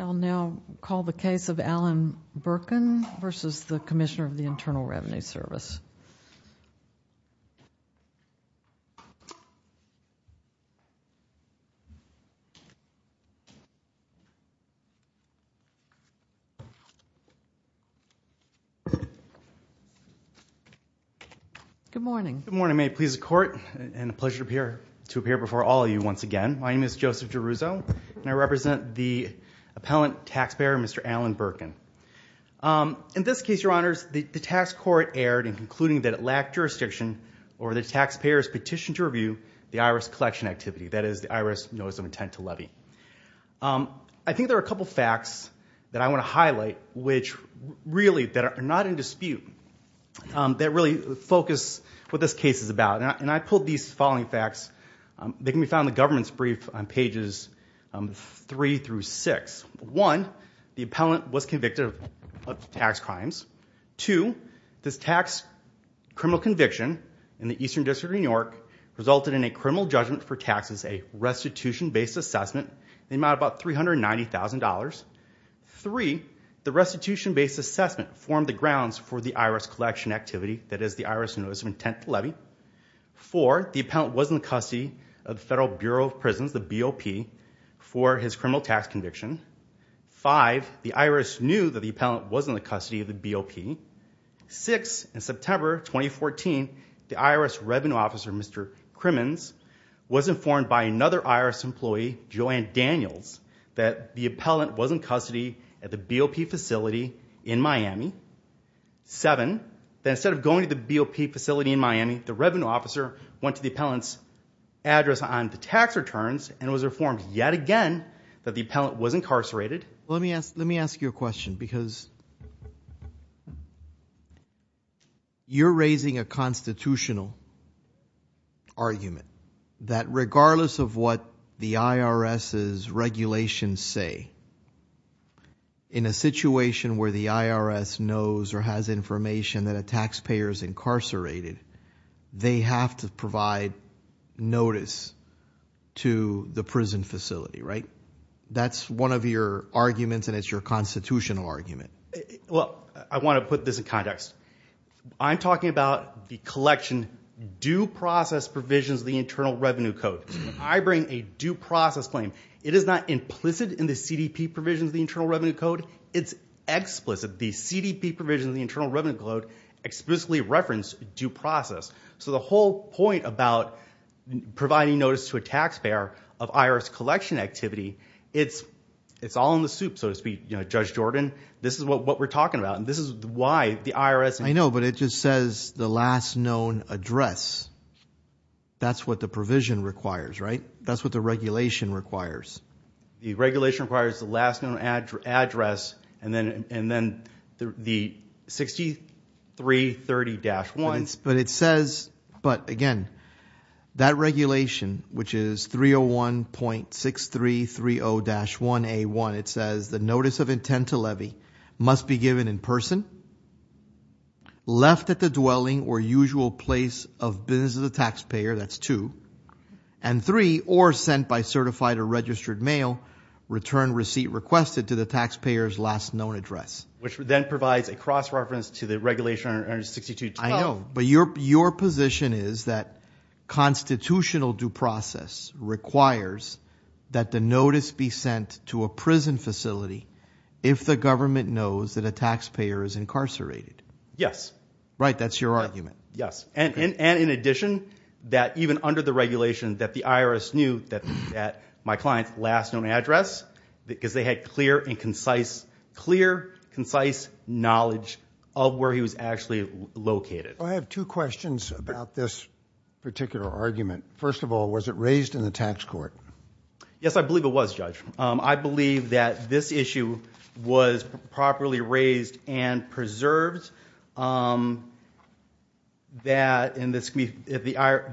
I will now call the case of Alan Berkun v. Commissioner of Internal Revenue Good morning. Good morning. May it please the court and a pleasure to appear before all of you once again. My name is Joseph DeRuzo and I represent the appellant taxpayer, Mr. Alan Berkun. In this case, your honors, the tax court erred in concluding that it lacked jurisdiction or the taxpayers petitioned to review the IRS collection activity, that is the IRS notice of intent to levy. I think there are a couple facts that I want to highlight really that are not in dispute, that really focus what this case is about. I pulled these following facts. They can be found in the government's brief on pages 3 through 6. One, the appellant was convicted of tax crimes. Two, this tax criminal conviction in the Eastern District of New York resulted in a criminal judgment for taxes, a restitution-based assessment in the amount of about $390,000. Three, the restitution-based assessment formed the grounds for the IRS collection activity, that is the IRS notice of intent to levy. Four, the appellant was in the custody of the Federal Bureau of Prisons, the BOP, for his criminal tax conviction. Five, the IRS knew that the appellant was in the custody of the BOP. Six, in September 2014, the IRS revenue officer, Mr. Crimmins, was informed by another IRS employee, Joanne Daniels, that the appellant was in custody at the BOP facility in Miami. Seven, that instead of going to the BOP facility in Miami, the revenue officer went to the appellant's address on the tax returns and was informed yet again that the appellant was incarcerated. Let me ask you a question because you're raising a constitutional argument that regardless of what the IRS's regulations say, in a situation where the IRS knows or has information that a taxpayer is incarcerated, they have to provide notice to the prison facility, right? That's one of your arguments and it's your constitutional argument. Well, I want to put this in context. I'm talking about the collection due process provisions of the Internal Revenue Code. I bring a due process claim. It is not implicit in the CDP provisions of the Internal Revenue Code. It's explicit. The CDP provisions of the Internal Revenue Code explicitly reference due process. So the whole point about providing notice to a taxpayer of IRS collection activity, it's all in the soup, so to speak. Judge Jordan, this is what we're talking about and this is why the IRS- I know, but it just says the last known address. That's what the provision requires, right? That's what the regulation requires. The regulation requires the last known address and then the 6330-1. But it says, but again, that regulation, which is 301.6330-1A1, it says the notice of intent to levy must be given in person, left at the dwelling or usual place of business of the taxpayer, that's two, and three, or sent by certified or registered mail, return receipt requested to the taxpayer's last known address. Which then provides a cross-reference to the regulation 162-12. I know, but your position is that constitutional due process requires that the notice be sent to a prison facility if the government knows that a taxpayer is incarcerated. Yes. Right, that's your argument. Yes, and in addition, that even under the regulation, that the IRS knew that my client's last known address, because they had clear and concise, clear, concise knowledge of where he was actually located. I have two questions about this particular argument. First of all, was it raised in the tax court? Yes, I believe it was, Judge. I believe that this issue was properly raised and preserved, that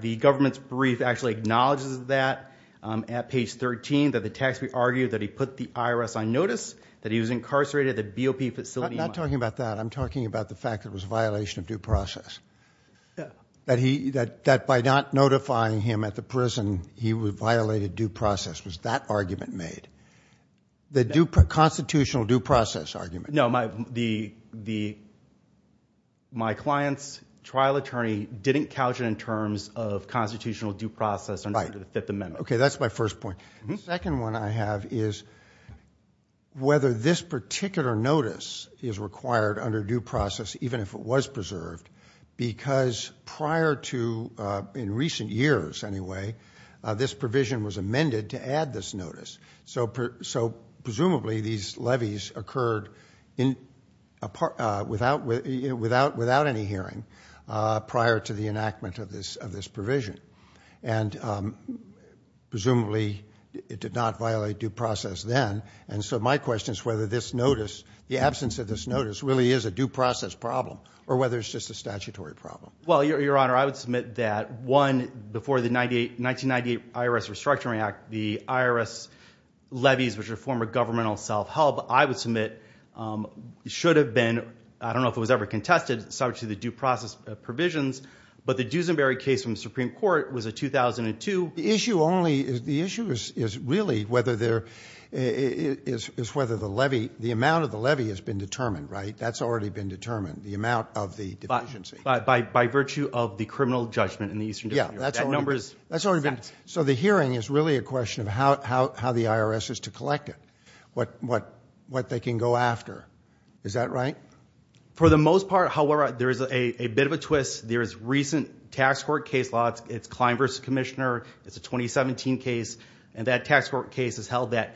the government's brief actually acknowledges that at page 13, that the taxpayer argued that he put the IRS on notice that he was incarcerated at the BOP facility. I'm not talking about that. I'm talking about the fact that it was a violation of due process, that by not notifying him at the prison, he violated due process. Was that argument made? The constitutional due process argument. No, my client's trial attorney didn't couch it in terms of constitutional due process under the Fifth Amendment. Okay, that's my first point. The second one I have is whether this particular notice is required under due process, even if it was preserved, because prior to, in recent years anyway, this provision was amended to add this notice. So presumably, these levies occurred without any hearing prior to the enactment of this provision. And presumably, it did not violate due process then. And so my question is whether this notice, the absence of this notice, really is a due process problem, or whether it's just a statutory problem. Well, Your Honor, I would submit that, one, before the 1998 IRS Restructuring Act, the IRS levies, which are a form of governmental self-help, I would submit should have been, I don't know if it was ever contested, subject to the due process provisions, but the Duesenberry case from the Supreme Court was a 2002. The issue is really whether the amount of the levy has been determined, right? That's already been determined, the amount of the deficiency. By virtue of the criminal judgment in the Eastern District Court. So the hearing is really a question of how the IRS is to collect it. What they can go after. Is that right? For the most part, however, there is a bit of a twist. There is recent tax court case law, it's Klein v. Commissioner, it's a 2017 case, and that tax court case has held that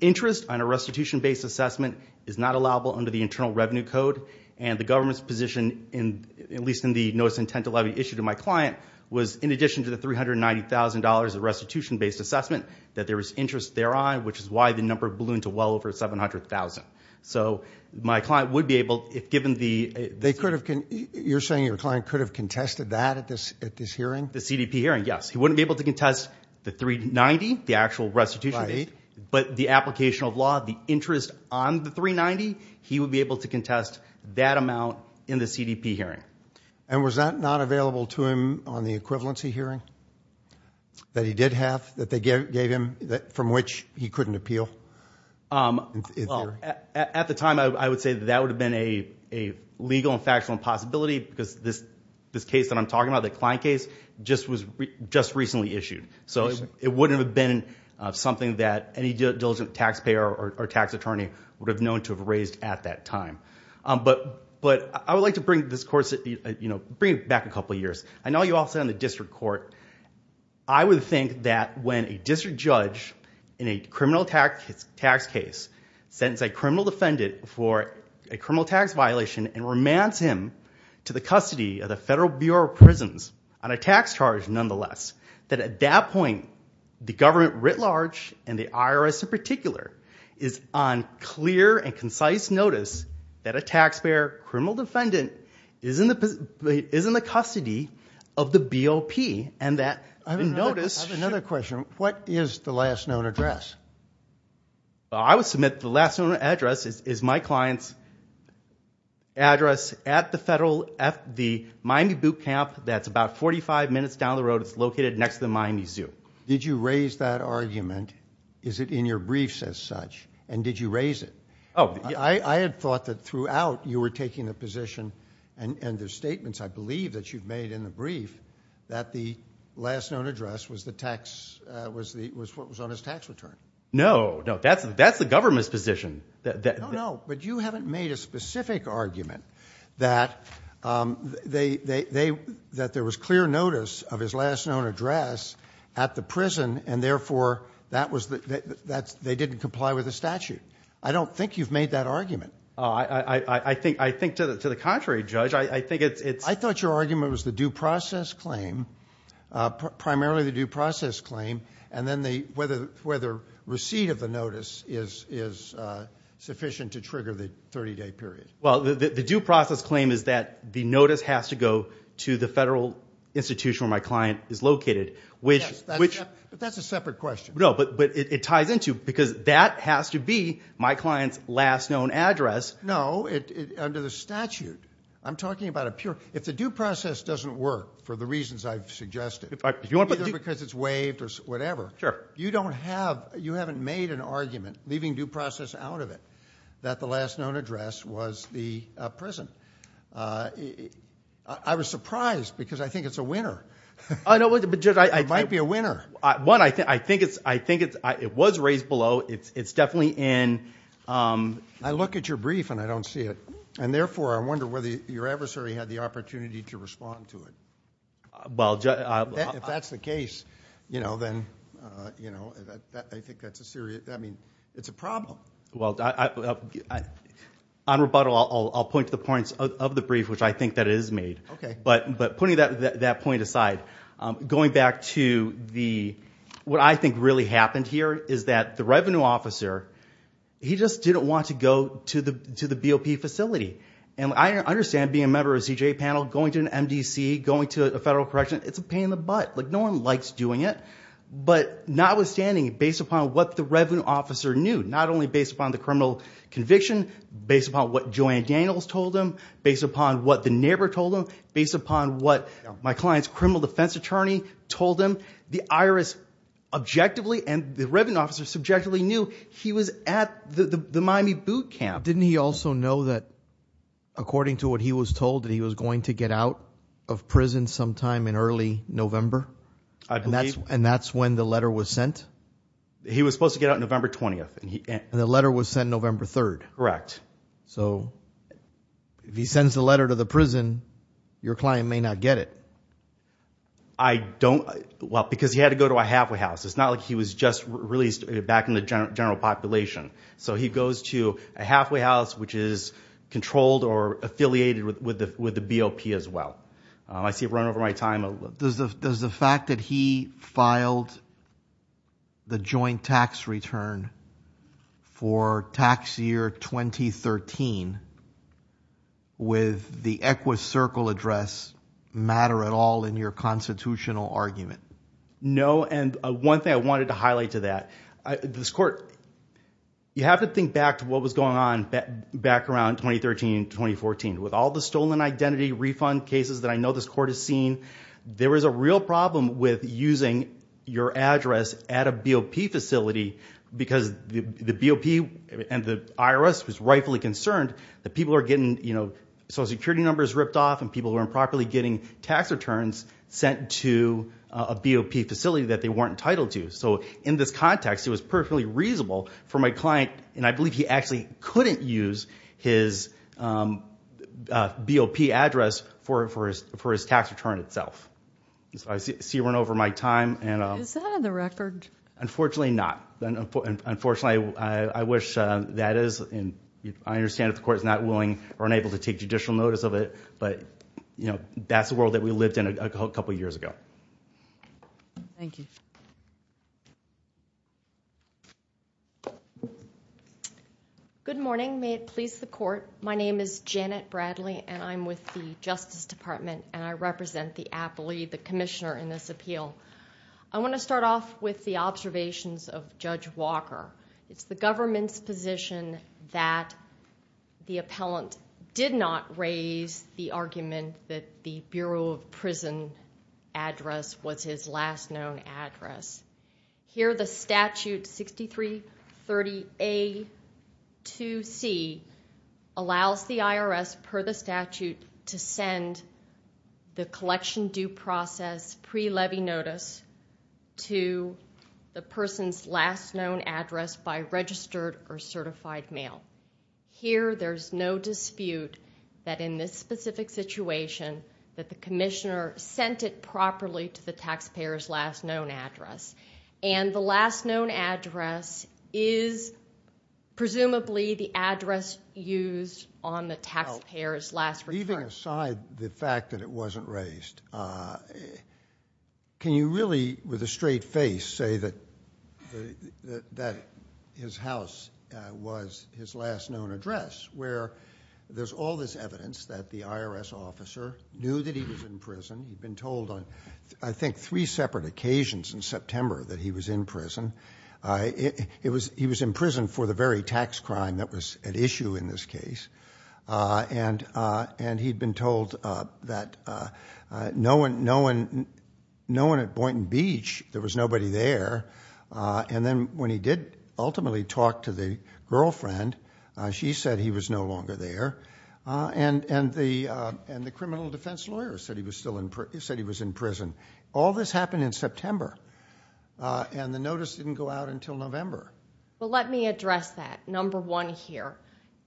interest on a restitution-based assessment is not allowable under the Internal Revenue Code. And the government's position, at least in the notice intent to levy issued to my client, was in addition to the $390,000 of restitution-based assessment, that there was interest thereon, which is why the number blew into well over 700,000. So my client would be able, if given the... They could have, you're saying your client could have contested that at this hearing? The CDP hearing, yes. He wouldn't be able to contest the $390,000, the actual restitution-based, but the application of law, the interest on the $390,000, he would be able to contest that amount in the CDP hearing. And was that not available to him on the equivalency hearing that he did have, that they gave him, from which he couldn't appeal? Well, at the time, I would say that that would have been a legal and factual impossibility, because this case that I'm talking about, the Klein case, just recently issued. So it wouldn't have been something that any diligent taxpayer or tax attorney would have known to have raised at that time. But I would like to bring this course, bring it back a couple years. I know you all sit on the district court. I would think that when a district judge, in a criminal tax case, sends a criminal defendant for a criminal tax violation and remands him to the custody of the Federal Bureau of Prisons on a tax charge, nonetheless, that at that point, the government writ large, and the IRS in particular, is on clear and concise notice that a taxpayer criminal defendant is in the custody of the BOP. And that notice... I have another question. What is the last known address? I would submit the last known address is my client's address at the Miami Boot Camp that's about 45 minutes down the road. It's located next to the Miami Zoo. Did you raise that argument? Is it in your briefs as such? And did you raise it? I had thought that throughout, you were taking the position, and there's statements I believe that you've made in the brief, that the last known address was the tax, was what was on his tax return. No. No. That's the government's position. No, no. But you haven't made a specific argument that there was clear notice of his last known address at the prison, and therefore, they didn't comply with the statute. I don't think you've made that argument. I think to the contrary, Judge. I think it's... I thought your argument was the due process claim, primarily the due process claim, and then whether receipt of the notice is sufficient to trigger the 30-day period. Well, the due process claim is that the notice has to go to the federal institution where my client is located, which... But that's a separate question. No, but it ties into, because that has to be my client's last known address. No. Under the statute, I'm talking about a pure... If the due process doesn't work, for the reasons I've suggested, either because it's waived or whatever, you don't have... You haven't made an argument, leaving due process out of it, that the last known address was the prison. I was surprised, because I think it's a winner. I don't... But Judge, I... It might be a winner. One, I think it was raised below. It's definitely in... I look at your brief and I don't see it, and therefore, I wonder whether your adversary had the opportunity to respond to it. Well... If that's the case, then I think that's a serious... It's a problem. Well, on rebuttal, I'll point to the points of the brief, which I think that it is made. But putting that point aside, going back to the... What I think really happened here is that the revenue officer, he just didn't want to go to the BOP facility. I understand being a member of a CJA panel, going to an MDC, going to a federal correction, it's a pain in the butt. No one likes doing it. But notwithstanding, based upon what the revenue officer knew, not only based upon the criminal conviction, based upon what Joanna Daniels told him, based upon what the neighbor told him, based upon what my client's criminal defense attorney told him, the IRS objectively and the revenue officer subjectively knew he was at the Miami boot camp. Didn't he also know that, according to what he was told, that he was going to get out of prison sometime in early November? And that's when the letter was sent? He was supposed to get out November 20th. The letter was sent November 3rd. Correct. So, if he sends the letter to the prison, your client may not get it. I don't... Well, because he had to go to a halfway house. It's not like he was just released back in the general population. So he goes to a halfway house, which is controlled or affiliated with the BOP as well. I see I've run over my time. Does the fact that he filed the joint tax return for tax year 2013 with the Equus Circle address matter at all in your constitutional argument? No. And one thing I wanted to highlight to that, this court, you have to think back to what was going on back around 2013, 2014. With all the stolen identity refund cases that I know this court has seen, there was a real problem with using your address at a BOP facility because the BOP and the IRS was rightfully concerned that people are getting social security numbers ripped off and people were improperly getting tax returns sent to a BOP facility that they weren't entitled to. So, in this context, it was perfectly reasonable for my client, and I believe he actually couldn't use his BOP address for his tax return itself. So I see I've run over my time. Is that on the record? Unfortunately not. Unfortunately, I wish that is. I understand that the court is not willing or unable to take judicial notice of it, but that's the world that we lived in a couple years ago. Thank you. Good morning. May it please the court. My name is Janet Bradley, and I'm with the Justice Department, and I represent the appellee, the commissioner in this appeal. I want to start off with the observations of Judge Walker. It's the government's position that the appellant did not raise the argument that the Bureau of Prison Address was his last known address. Here the statute 6330A2C allows the IRS, per the statute, to send the collection due process pre-levy notice to the person's last known address by registered or certified mail. Here there's no dispute that in this specific situation that the commissioner sent it properly to the taxpayer's last known address, and the last known address is presumably the address used on the taxpayer's last return. Leaving aside the fact that it wasn't raised, can you really, with a straight face, say that his house was his last known address? Where there's all this evidence that the IRS officer knew that he was in prison. He'd been told on, I think, three separate occasions in September that he was in prison. He was in prison for the very tax crime that was at issue in this case, and he'd been told that no one at Boynton Beach, there was nobody there, and then when he did ultimately talk to the girlfriend, she said he was no longer there, and the criminal defense lawyer said he was in prison. All this happened in September, and the notice didn't go out until November. Let me address that, number one here.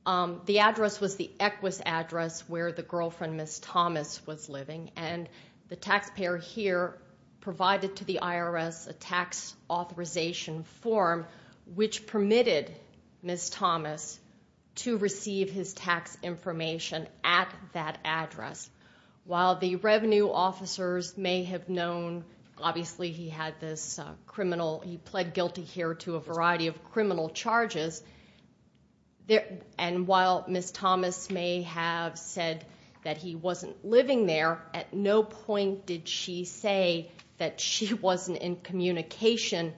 The address was the Equus address where the girlfriend, Ms. Thomas, was living, and the taxpayer here provided to the IRS a tax authorization form which permitted Ms. Thomas to receive his tax information at that address. While the revenue officers may have known, obviously he had this criminal, he pled guilty here to a variety of criminal charges, and while Ms. Thomas may have said that he wasn't living there, at no point did she say that she wasn't in communication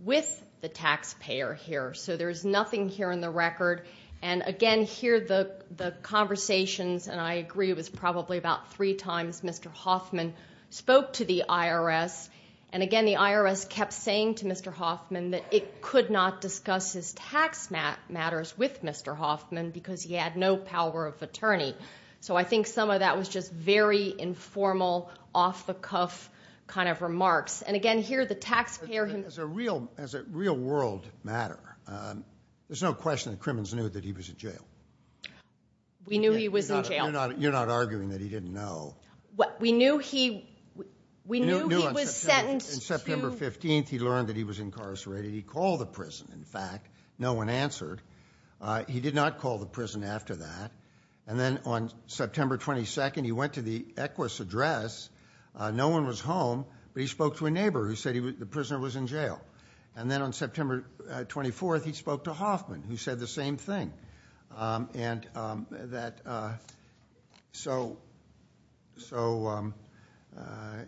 with the taxpayer here, so there's nothing here in the record, and again, here the conversations, and I agree it was probably about three times Mr. Hoffman spoke to the IRS, and again, the IRS kept saying to Mr. Hoffman that it could not discuss his tax matters with Mr. Hoffman because he had no power of attorney, so I think some of that was just very informal, off-the-cuff kind of remarks, and again, here the taxpayer himself... As a real-world matter, there's no question the criminals knew that he was in jail. We knew he was in jail. You're not arguing that he didn't know. We knew he was sentenced to... In September 15th, he learned that he was incarcerated. He called the prison, in fact. No one answered. He did not call the prison after that, and then on September 22nd, he went to the Equus address. No one was home, but he spoke to a neighbor who said the prisoner was in jail, and then on September 24th, he spoke to Hoffman, who said the same thing, and that...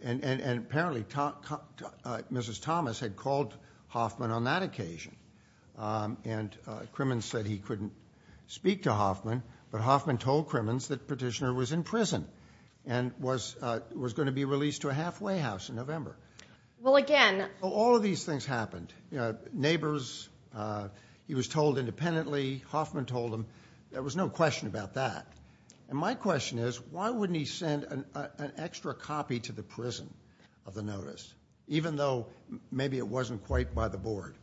Apparently, Mrs. Thomas had called Hoffman on that occasion, and Crimmins said he couldn't speak to Hoffman, but Hoffman told Crimmins that the petitioner was in prison and was going to be released to a halfway house in November. All of these things happened. Neighbors, he was told independently. Hoffman told him. There was no question about that, and my question is, why wouldn't he send an extra copy to the prison of the notice, even though maybe it wasn't quite by the board?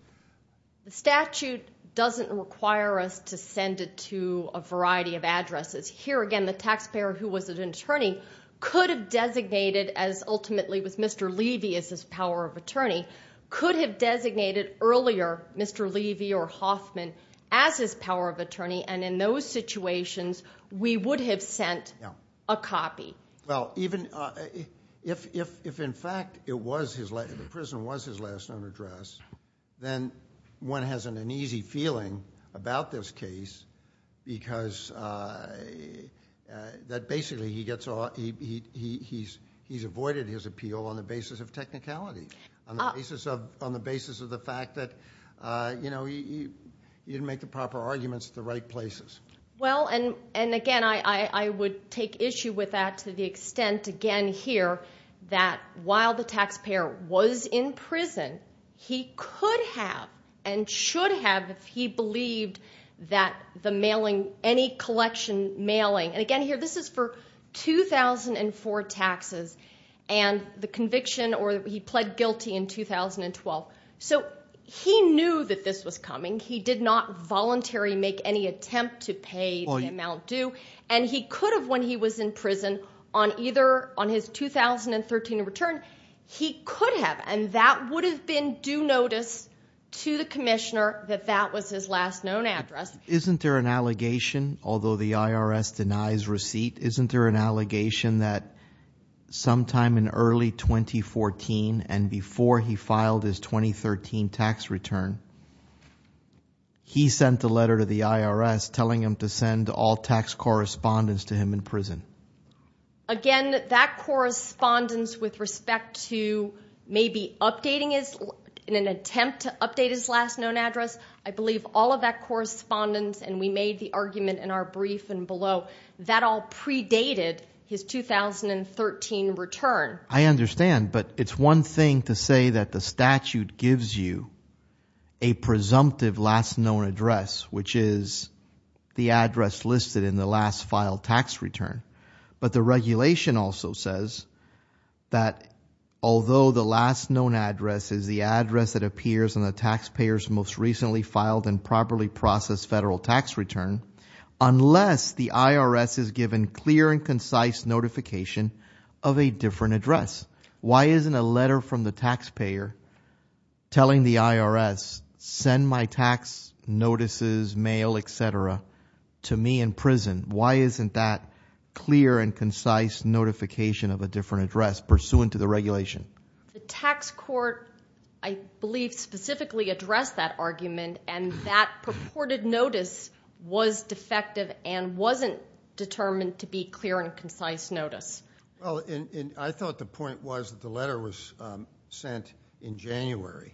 The statute doesn't require us to send it to a variety of addresses. Here, again, the taxpayer who was an attorney could have designated, as ultimately with Mr. Levy as his power of attorney, could have designated earlier Mr. Levy or Hoffman as his power of attorney, and in those situations, we would have sent a copy. Well, even if in fact the prison was his last known address, then one has an uneasy feeling about this case because basically he's avoided his appeal on the basis of technicality, on the basis of the fact that he didn't make the proper arguments at the right places. Well, and again, I would take issue with that to the extent, again here, that while the taxpayer was in prison, he could have and should have if he believed that the mailing, any collection mailing, and again here, this is for 2004 taxes, and the conviction or he pled guilty in 2012. So he knew that this was coming. He did not voluntarily make any attempt to pay the amount due, and he could have when he was in prison on either, on his 2013 return, he could have, and that would have been due notice to the commissioner that that was his last known address. Isn't there an allegation, although the IRS denies receipt, isn't there an allegation that sometime in early 2014 and before he filed his 2013 tax return, he sent a letter to the IRS telling him to send all tax correspondence to him in prison? Again, that correspondence with respect to maybe updating his, in an attempt to update his last known address, I believe all of that correspondence, and we made the argument in our brief and below, that all predated his 2013 return. I understand, but it's one thing to say that the statute gives you a presumptive last known address, which is the address listed in the last filed tax return, but the regulation also says that although the last known address is the address that appears on the taxpayer's most recently filed and properly processed federal tax return, unless the IRS has given clear and concise notification of a different address, why isn't a letter from the taxpayer telling the IRS, send my tax notices, mail, et cetera, to me in prison? Why isn't that clear and concise notification of a different address pursuant to the regulation? The tax court, I believe, specifically addressed that argument, and that purported notice was defective and wasn't determined to be clear and concise notice. I thought the point was that the letter was sent in January,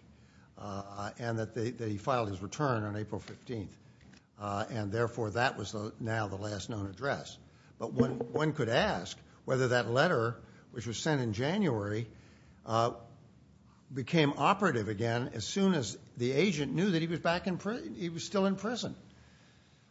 and that he filed his return on April 15th, and therefore that was now the last known address. But one could ask whether that letter, which was sent in January, became operative again as soon as the agent knew that he was still in prison.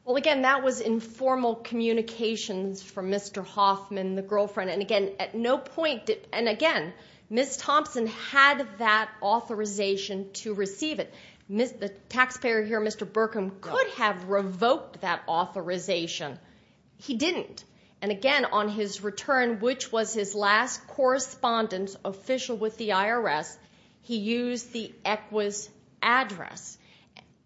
Well, again, that was informal communications from Mr. Hoffman, the girlfriend, and again, at no point, and again, Ms. Thompson had that authorization to receive it. The taxpayer here, Mr. Berkum, could have revoked that authorization. He didn't. And again, on his return, which was his last correspondence official with the IRS, he used the ECWAS address.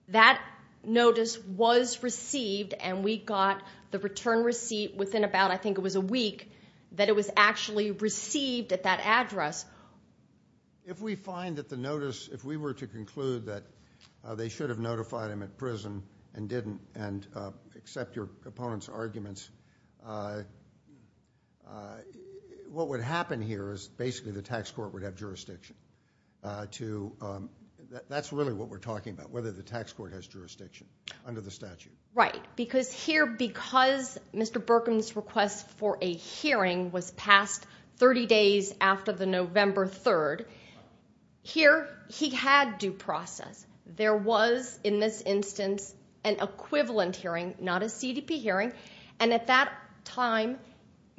That notice was received, and we got the return receipt within about, I think it was a week, that it was actually received at that address. If we find that the notice, if we were to conclude that they should have notified him at prison and didn't, and accept your opponent's arguments, what would happen here is basically the tax court would have jurisdiction. That's really what we're talking about, whether the tax court has jurisdiction under the statute. Right. Because here, because Mr. Berkum's request for a hearing was passed 30 days after the November 3rd, here he had due process. There was, in this instance, an equivalent hearing, not a CDP hearing. And at that time,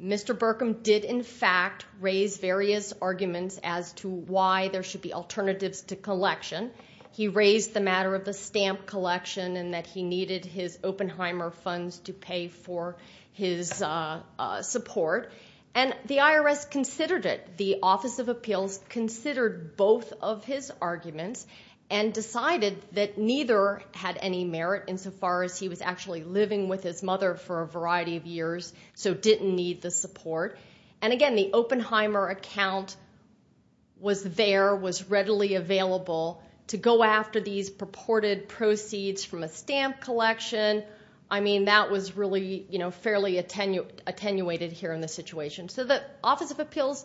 Mr. Berkum did, in fact, raise various arguments as to why there should be alternatives to collection. He raised the matter of the stamp collection and that he needed his Oppenheimer funds to pay for his support. And the IRS considered it. The Office of Appeals considered both of his arguments and decided that neither had any merit insofar as he was actually living with his mother for a variety of years, so didn't need the support. And again, the Oppenheimer account was there, was readily available to go after these purported proceeds from a stamp collection. I mean, that was really fairly attenuated here in this situation. So the Office of Appeals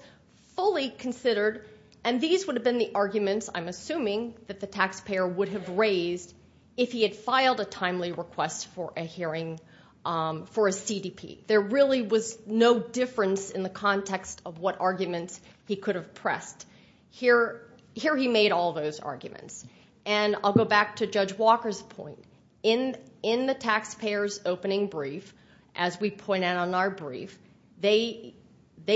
fully considered, and these would have been the arguments, I'm assuming, that the taxpayer would have raised if he had filed a timely request for a hearing for a CDP. There really was no difference in the context of what arguments he could have pressed. Here he made all those arguments. And I'll go back to Judge Walker's point. In the taxpayer's opening brief, as we point out in our brief, they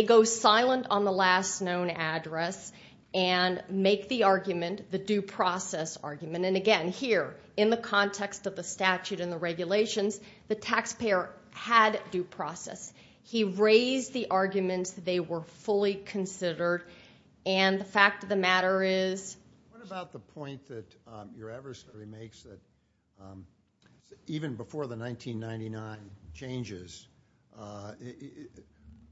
go silent on the last known address and make the argument, the due process argument. And again, here, in the context of the statute and the regulations, the taxpayer had due process. He raised the arguments. They were fully considered. And the fact of the matter is... What about the point that your adversary makes that even before the 1999 changes,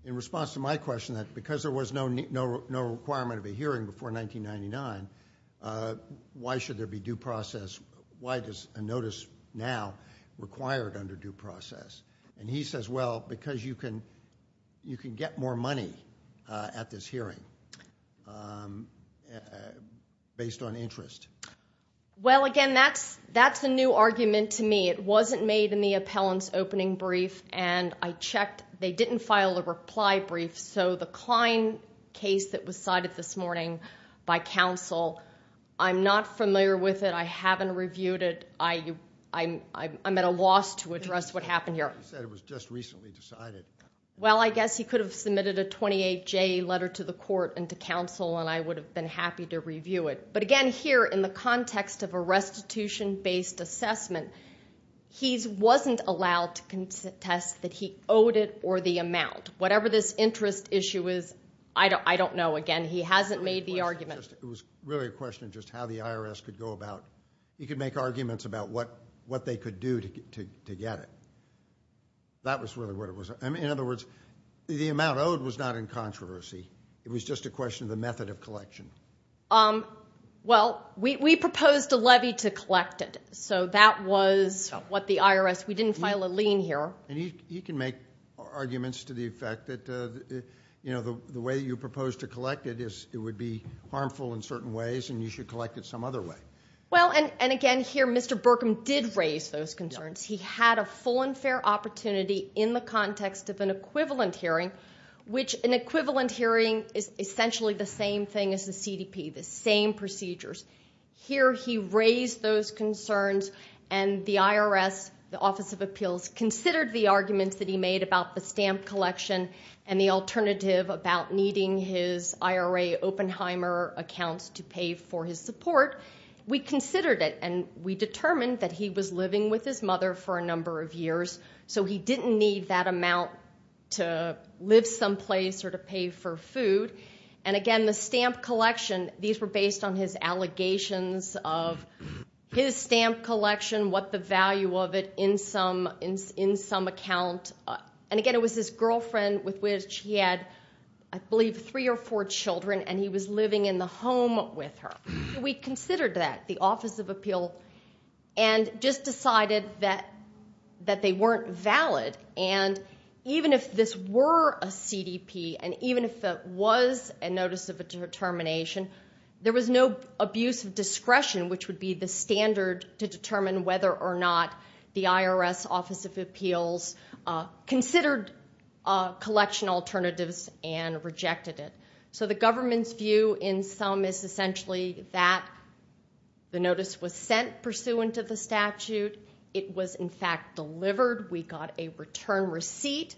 in response to my question, that because there was no requirement of a hearing before 1999, why should there be due process? Why does a notice now require it under due process? And he says, well, because you can get more money at this hearing based on interest. Well, again, that's a new argument to me. It wasn't made in the appellant's opening brief. And I checked. They didn't file a reply brief. So the Klein case that was cited this morning by counsel, I'm not familiar with it. I haven't reviewed it. I'm at a loss to address what happened here. He said it was just recently decided. Well, I guess he could have submitted a 28-J letter to the court and to counsel, and I would have been happy to review it. But again, here, in the context of a restitution-based assessment, he wasn't allowed to contest that he owed it or the amount. Whatever this interest issue is, I don't know. Again, he hasn't made the argument. It was really a question of just how the IRS could go about... what they could do to get it. That was really what it was. In other words, the amount owed was not in controversy. It was just a question of the method of collection. Well, we proposed a levy to collect it. So that was what the IRS... We didn't file a lien here. And you can make arguments to the effect that, you know, the way you proposed to collect it is it would be harmful in certain ways, and you should collect it some other way. Well, and again, here, Mr. Burkham did raise those concerns. He had a full and fair opportunity in the context of an equivalent hearing, which an equivalent hearing is essentially the same thing as the CDP, the same procedures. Here, he raised those concerns, and the IRS, the Office of Appeals, considered the arguments that he made about the stamp collection and the alternative about needing his IRA Oppenheimer accounts to pay for his support. We considered it, and we determined that he was living with his mother for a number of years, so he didn't need that amount to live someplace or to pay for food. And again, the stamp collection, these were based on his allegations of his stamp collection, what the value of it in some account. And again, it was his girlfriend with which he had, I believe, three or four children, and he was living in the home with her. We considered that, the Office of Appeals, and just decided that they weren't valid. And even if this were a CDP, and even if it was a Notice of Determination, there was no abuse of discretion, which would be the standard to determine whether or not the IRS Office of Appeals considered collection alternatives and rejected it. So the government's view in some is essentially that the notice was sent pursuant of the statute. It was, in fact, delivered. We got a return receipt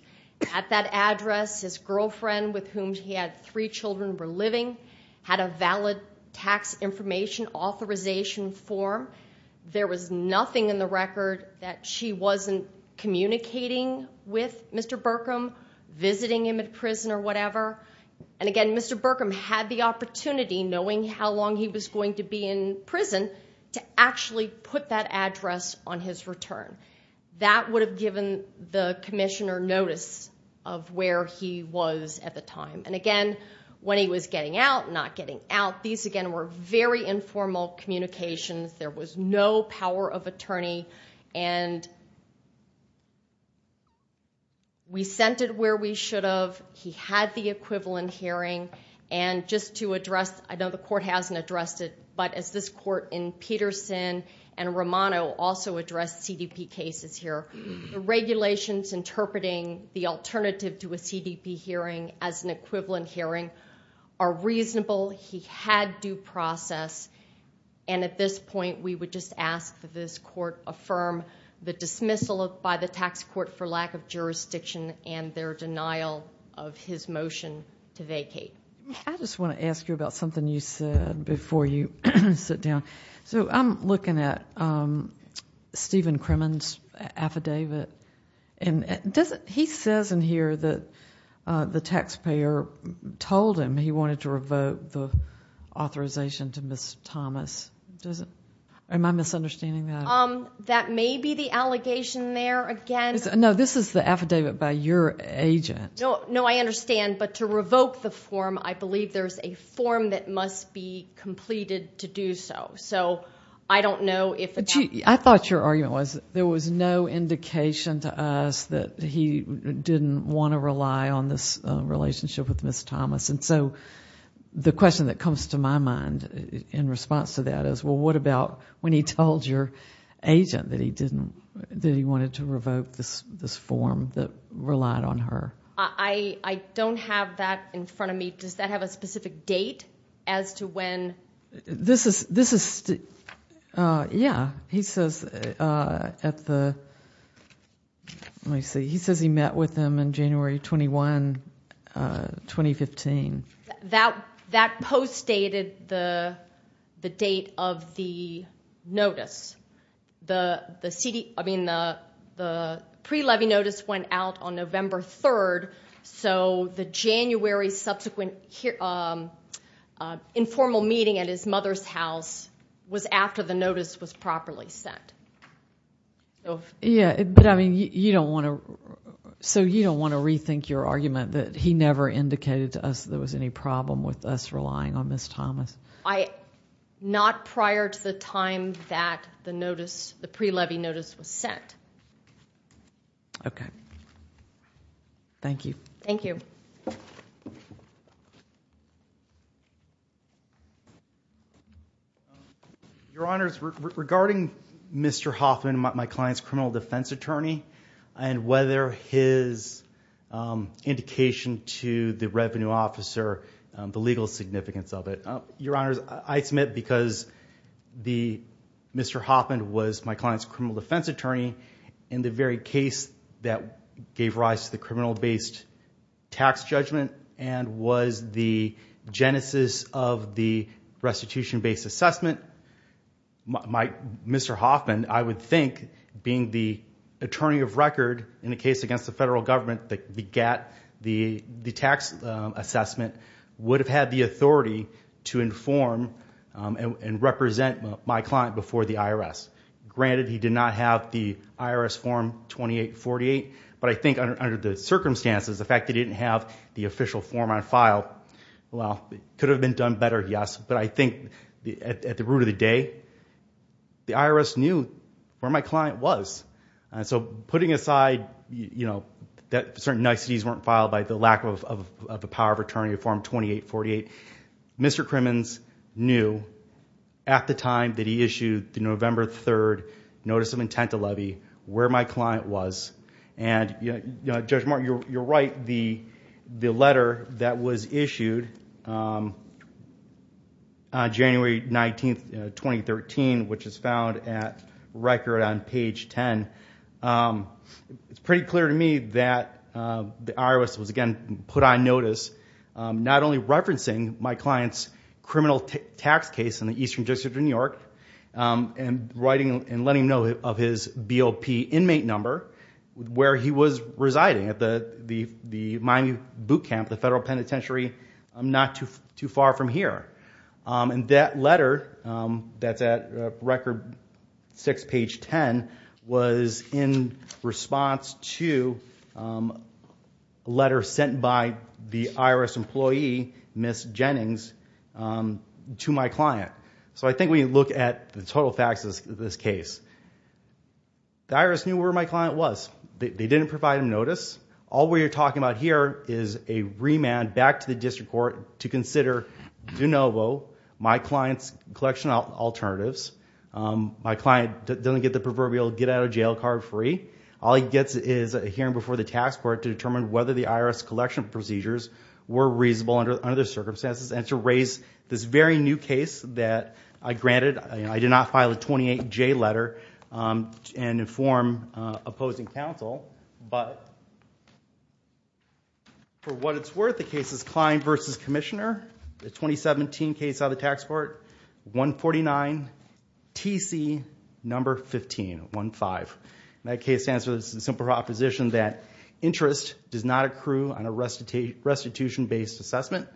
at that address. His girlfriend, with whom he had three children, were living, had a valid tax information authorization form. There was nothing in the record that she wasn't communicating with Mr. Berkham, visiting him at prison or whatever. And again, Mr. Berkham had the opportunity, knowing how long he was going to be in prison, to actually put that address on his return. That would have given the commissioner notice of where he was at the time. And again, when he was getting out, not getting out, these, again, were very informal communications. There was no power of attorney. And we sent it where we should have. He had the equivalent hearing. And just to address, I know the court hasn't addressed it, but as this court in Peterson and Romano also addressed CDP cases here, the regulations interpreting the alternative to a CDP hearing as an equivalent hearing are reasonable. He had due process. And at this point, we would just ask that this court affirm the dismissal by the tax court for lack of jurisdiction and their denial of his motion to vacate. I just want to ask you about something you said before you sit down. So I'm looking at Stephen Kremen's affidavit. He says in here that the taxpayer told him he wanted to revoke the authorization to Ms. Thomas. Am I misunderstanding that? That may be the allegation there. No, this is the affidavit by your agent. No, I understand, but to revoke the form, I believe there's a form that must be completed to do so. So I don't know if that... I thought your argument was there was no indication to us that he didn't want to rely on this relationship with Ms. Thomas. And so the question that comes to my mind in response to that is, well, what about when he told your agent that he wanted to revoke this form that relied on her? I don't have that in front of me. Does that have a specific date as to when? This is... yeah. He says at the... let me see. He says he met with him in January 21, 2015. That post dated the date of the notice. The CD... I mean, the pre-levy notice went out on November 3rd, so the January subsequent informal meeting at his mother's house was after the notice was properly sent. Yeah, but I mean, you don't want to... so you don't want to rethink your argument that he never indicated to us that there was any problem with us relying on Ms. Thomas? Not prior to the time that the notice, the pre-levy notice was sent. Okay. Thank you. Thank you. Your Honors, regarding Mr. Hoffman, my client's criminal defense attorney, and whether his indication to the revenue officer, the legal significance of it. Your Honors, I submit because Mr. Hoffman was my client's criminal defense attorney in the very case that gave rise to the criminal-based tax judgment and was the genesis of the restitution-based assessment, Mr. Hoffman, I would think, being the attorney of record in a case against the GAT, the tax assessment, would have had the authority to inform and represent my client before the IRS. Granted, he did not have the IRS Form 2848, but I think under the circumstances, the fact that he didn't have the official form on file, well, it could have been done better, yes, but I think at the root of the day, the IRS knew where my client was. So putting aside that certain niceties weren't filed by the lack of the power of attorney form 2848, Mr. Crimmins knew at the time that he issued the November 3rd notice of intent to levy where my client was, and Judge Martin, you're right, the letter that was issued on It's pretty clear to me that the IRS was, again, put on notice not only referencing my client's criminal tax case in the Eastern District of New York and letting him know of his BOP inmate number, where he was residing, at the Miami Boot Camp, the federal penitentiary not too far from here. And that letter that's at record six page 10 was in response to a letter sent by the IRS employee, Ms. Jennings, to my client. So I think when you look at the total facts of this case, the IRS knew where my client was. They didn't provide him notice. All we're talking about here is a remand back to the district court to consider de novo my client's collection alternatives. My client doesn't get the proverbial get out of jail card free. All he gets is a hearing before the tax court to determine whether the IRS collection procedures were reasonable under the circumstances and to raise this very new case that I granted. I did not file a 28-J letter and inform opposing counsel. But for what it's worth, the case is Klein v. Commissioner, the 2017 case out of the tax court, 149 TC number 15, 1-5. That case answers the simple proposition that interest does not accrue on a restitution-based assessment.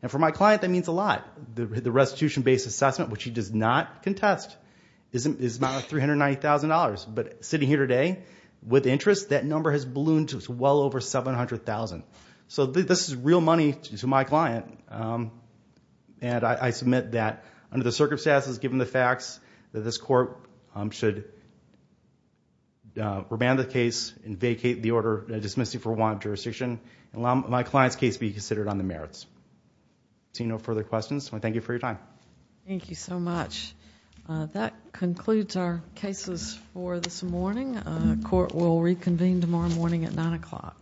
And for my client, that means a lot. The restitution-based assessment, which he does not contest, is about $390,000. But sitting here today, with interest, that number has ballooned to well over $700,000. So this is real money to my client. And I submit that under the circumstances, given the facts, that this court should remand the case and vacate the order dismissing for one jurisdiction and allow my client's case be considered on the merits. Seeing no further questions, I thank you for your time. Thank you so much. That concludes our cases for this morning. Court will reconvene tomorrow morning at 9 o'clock.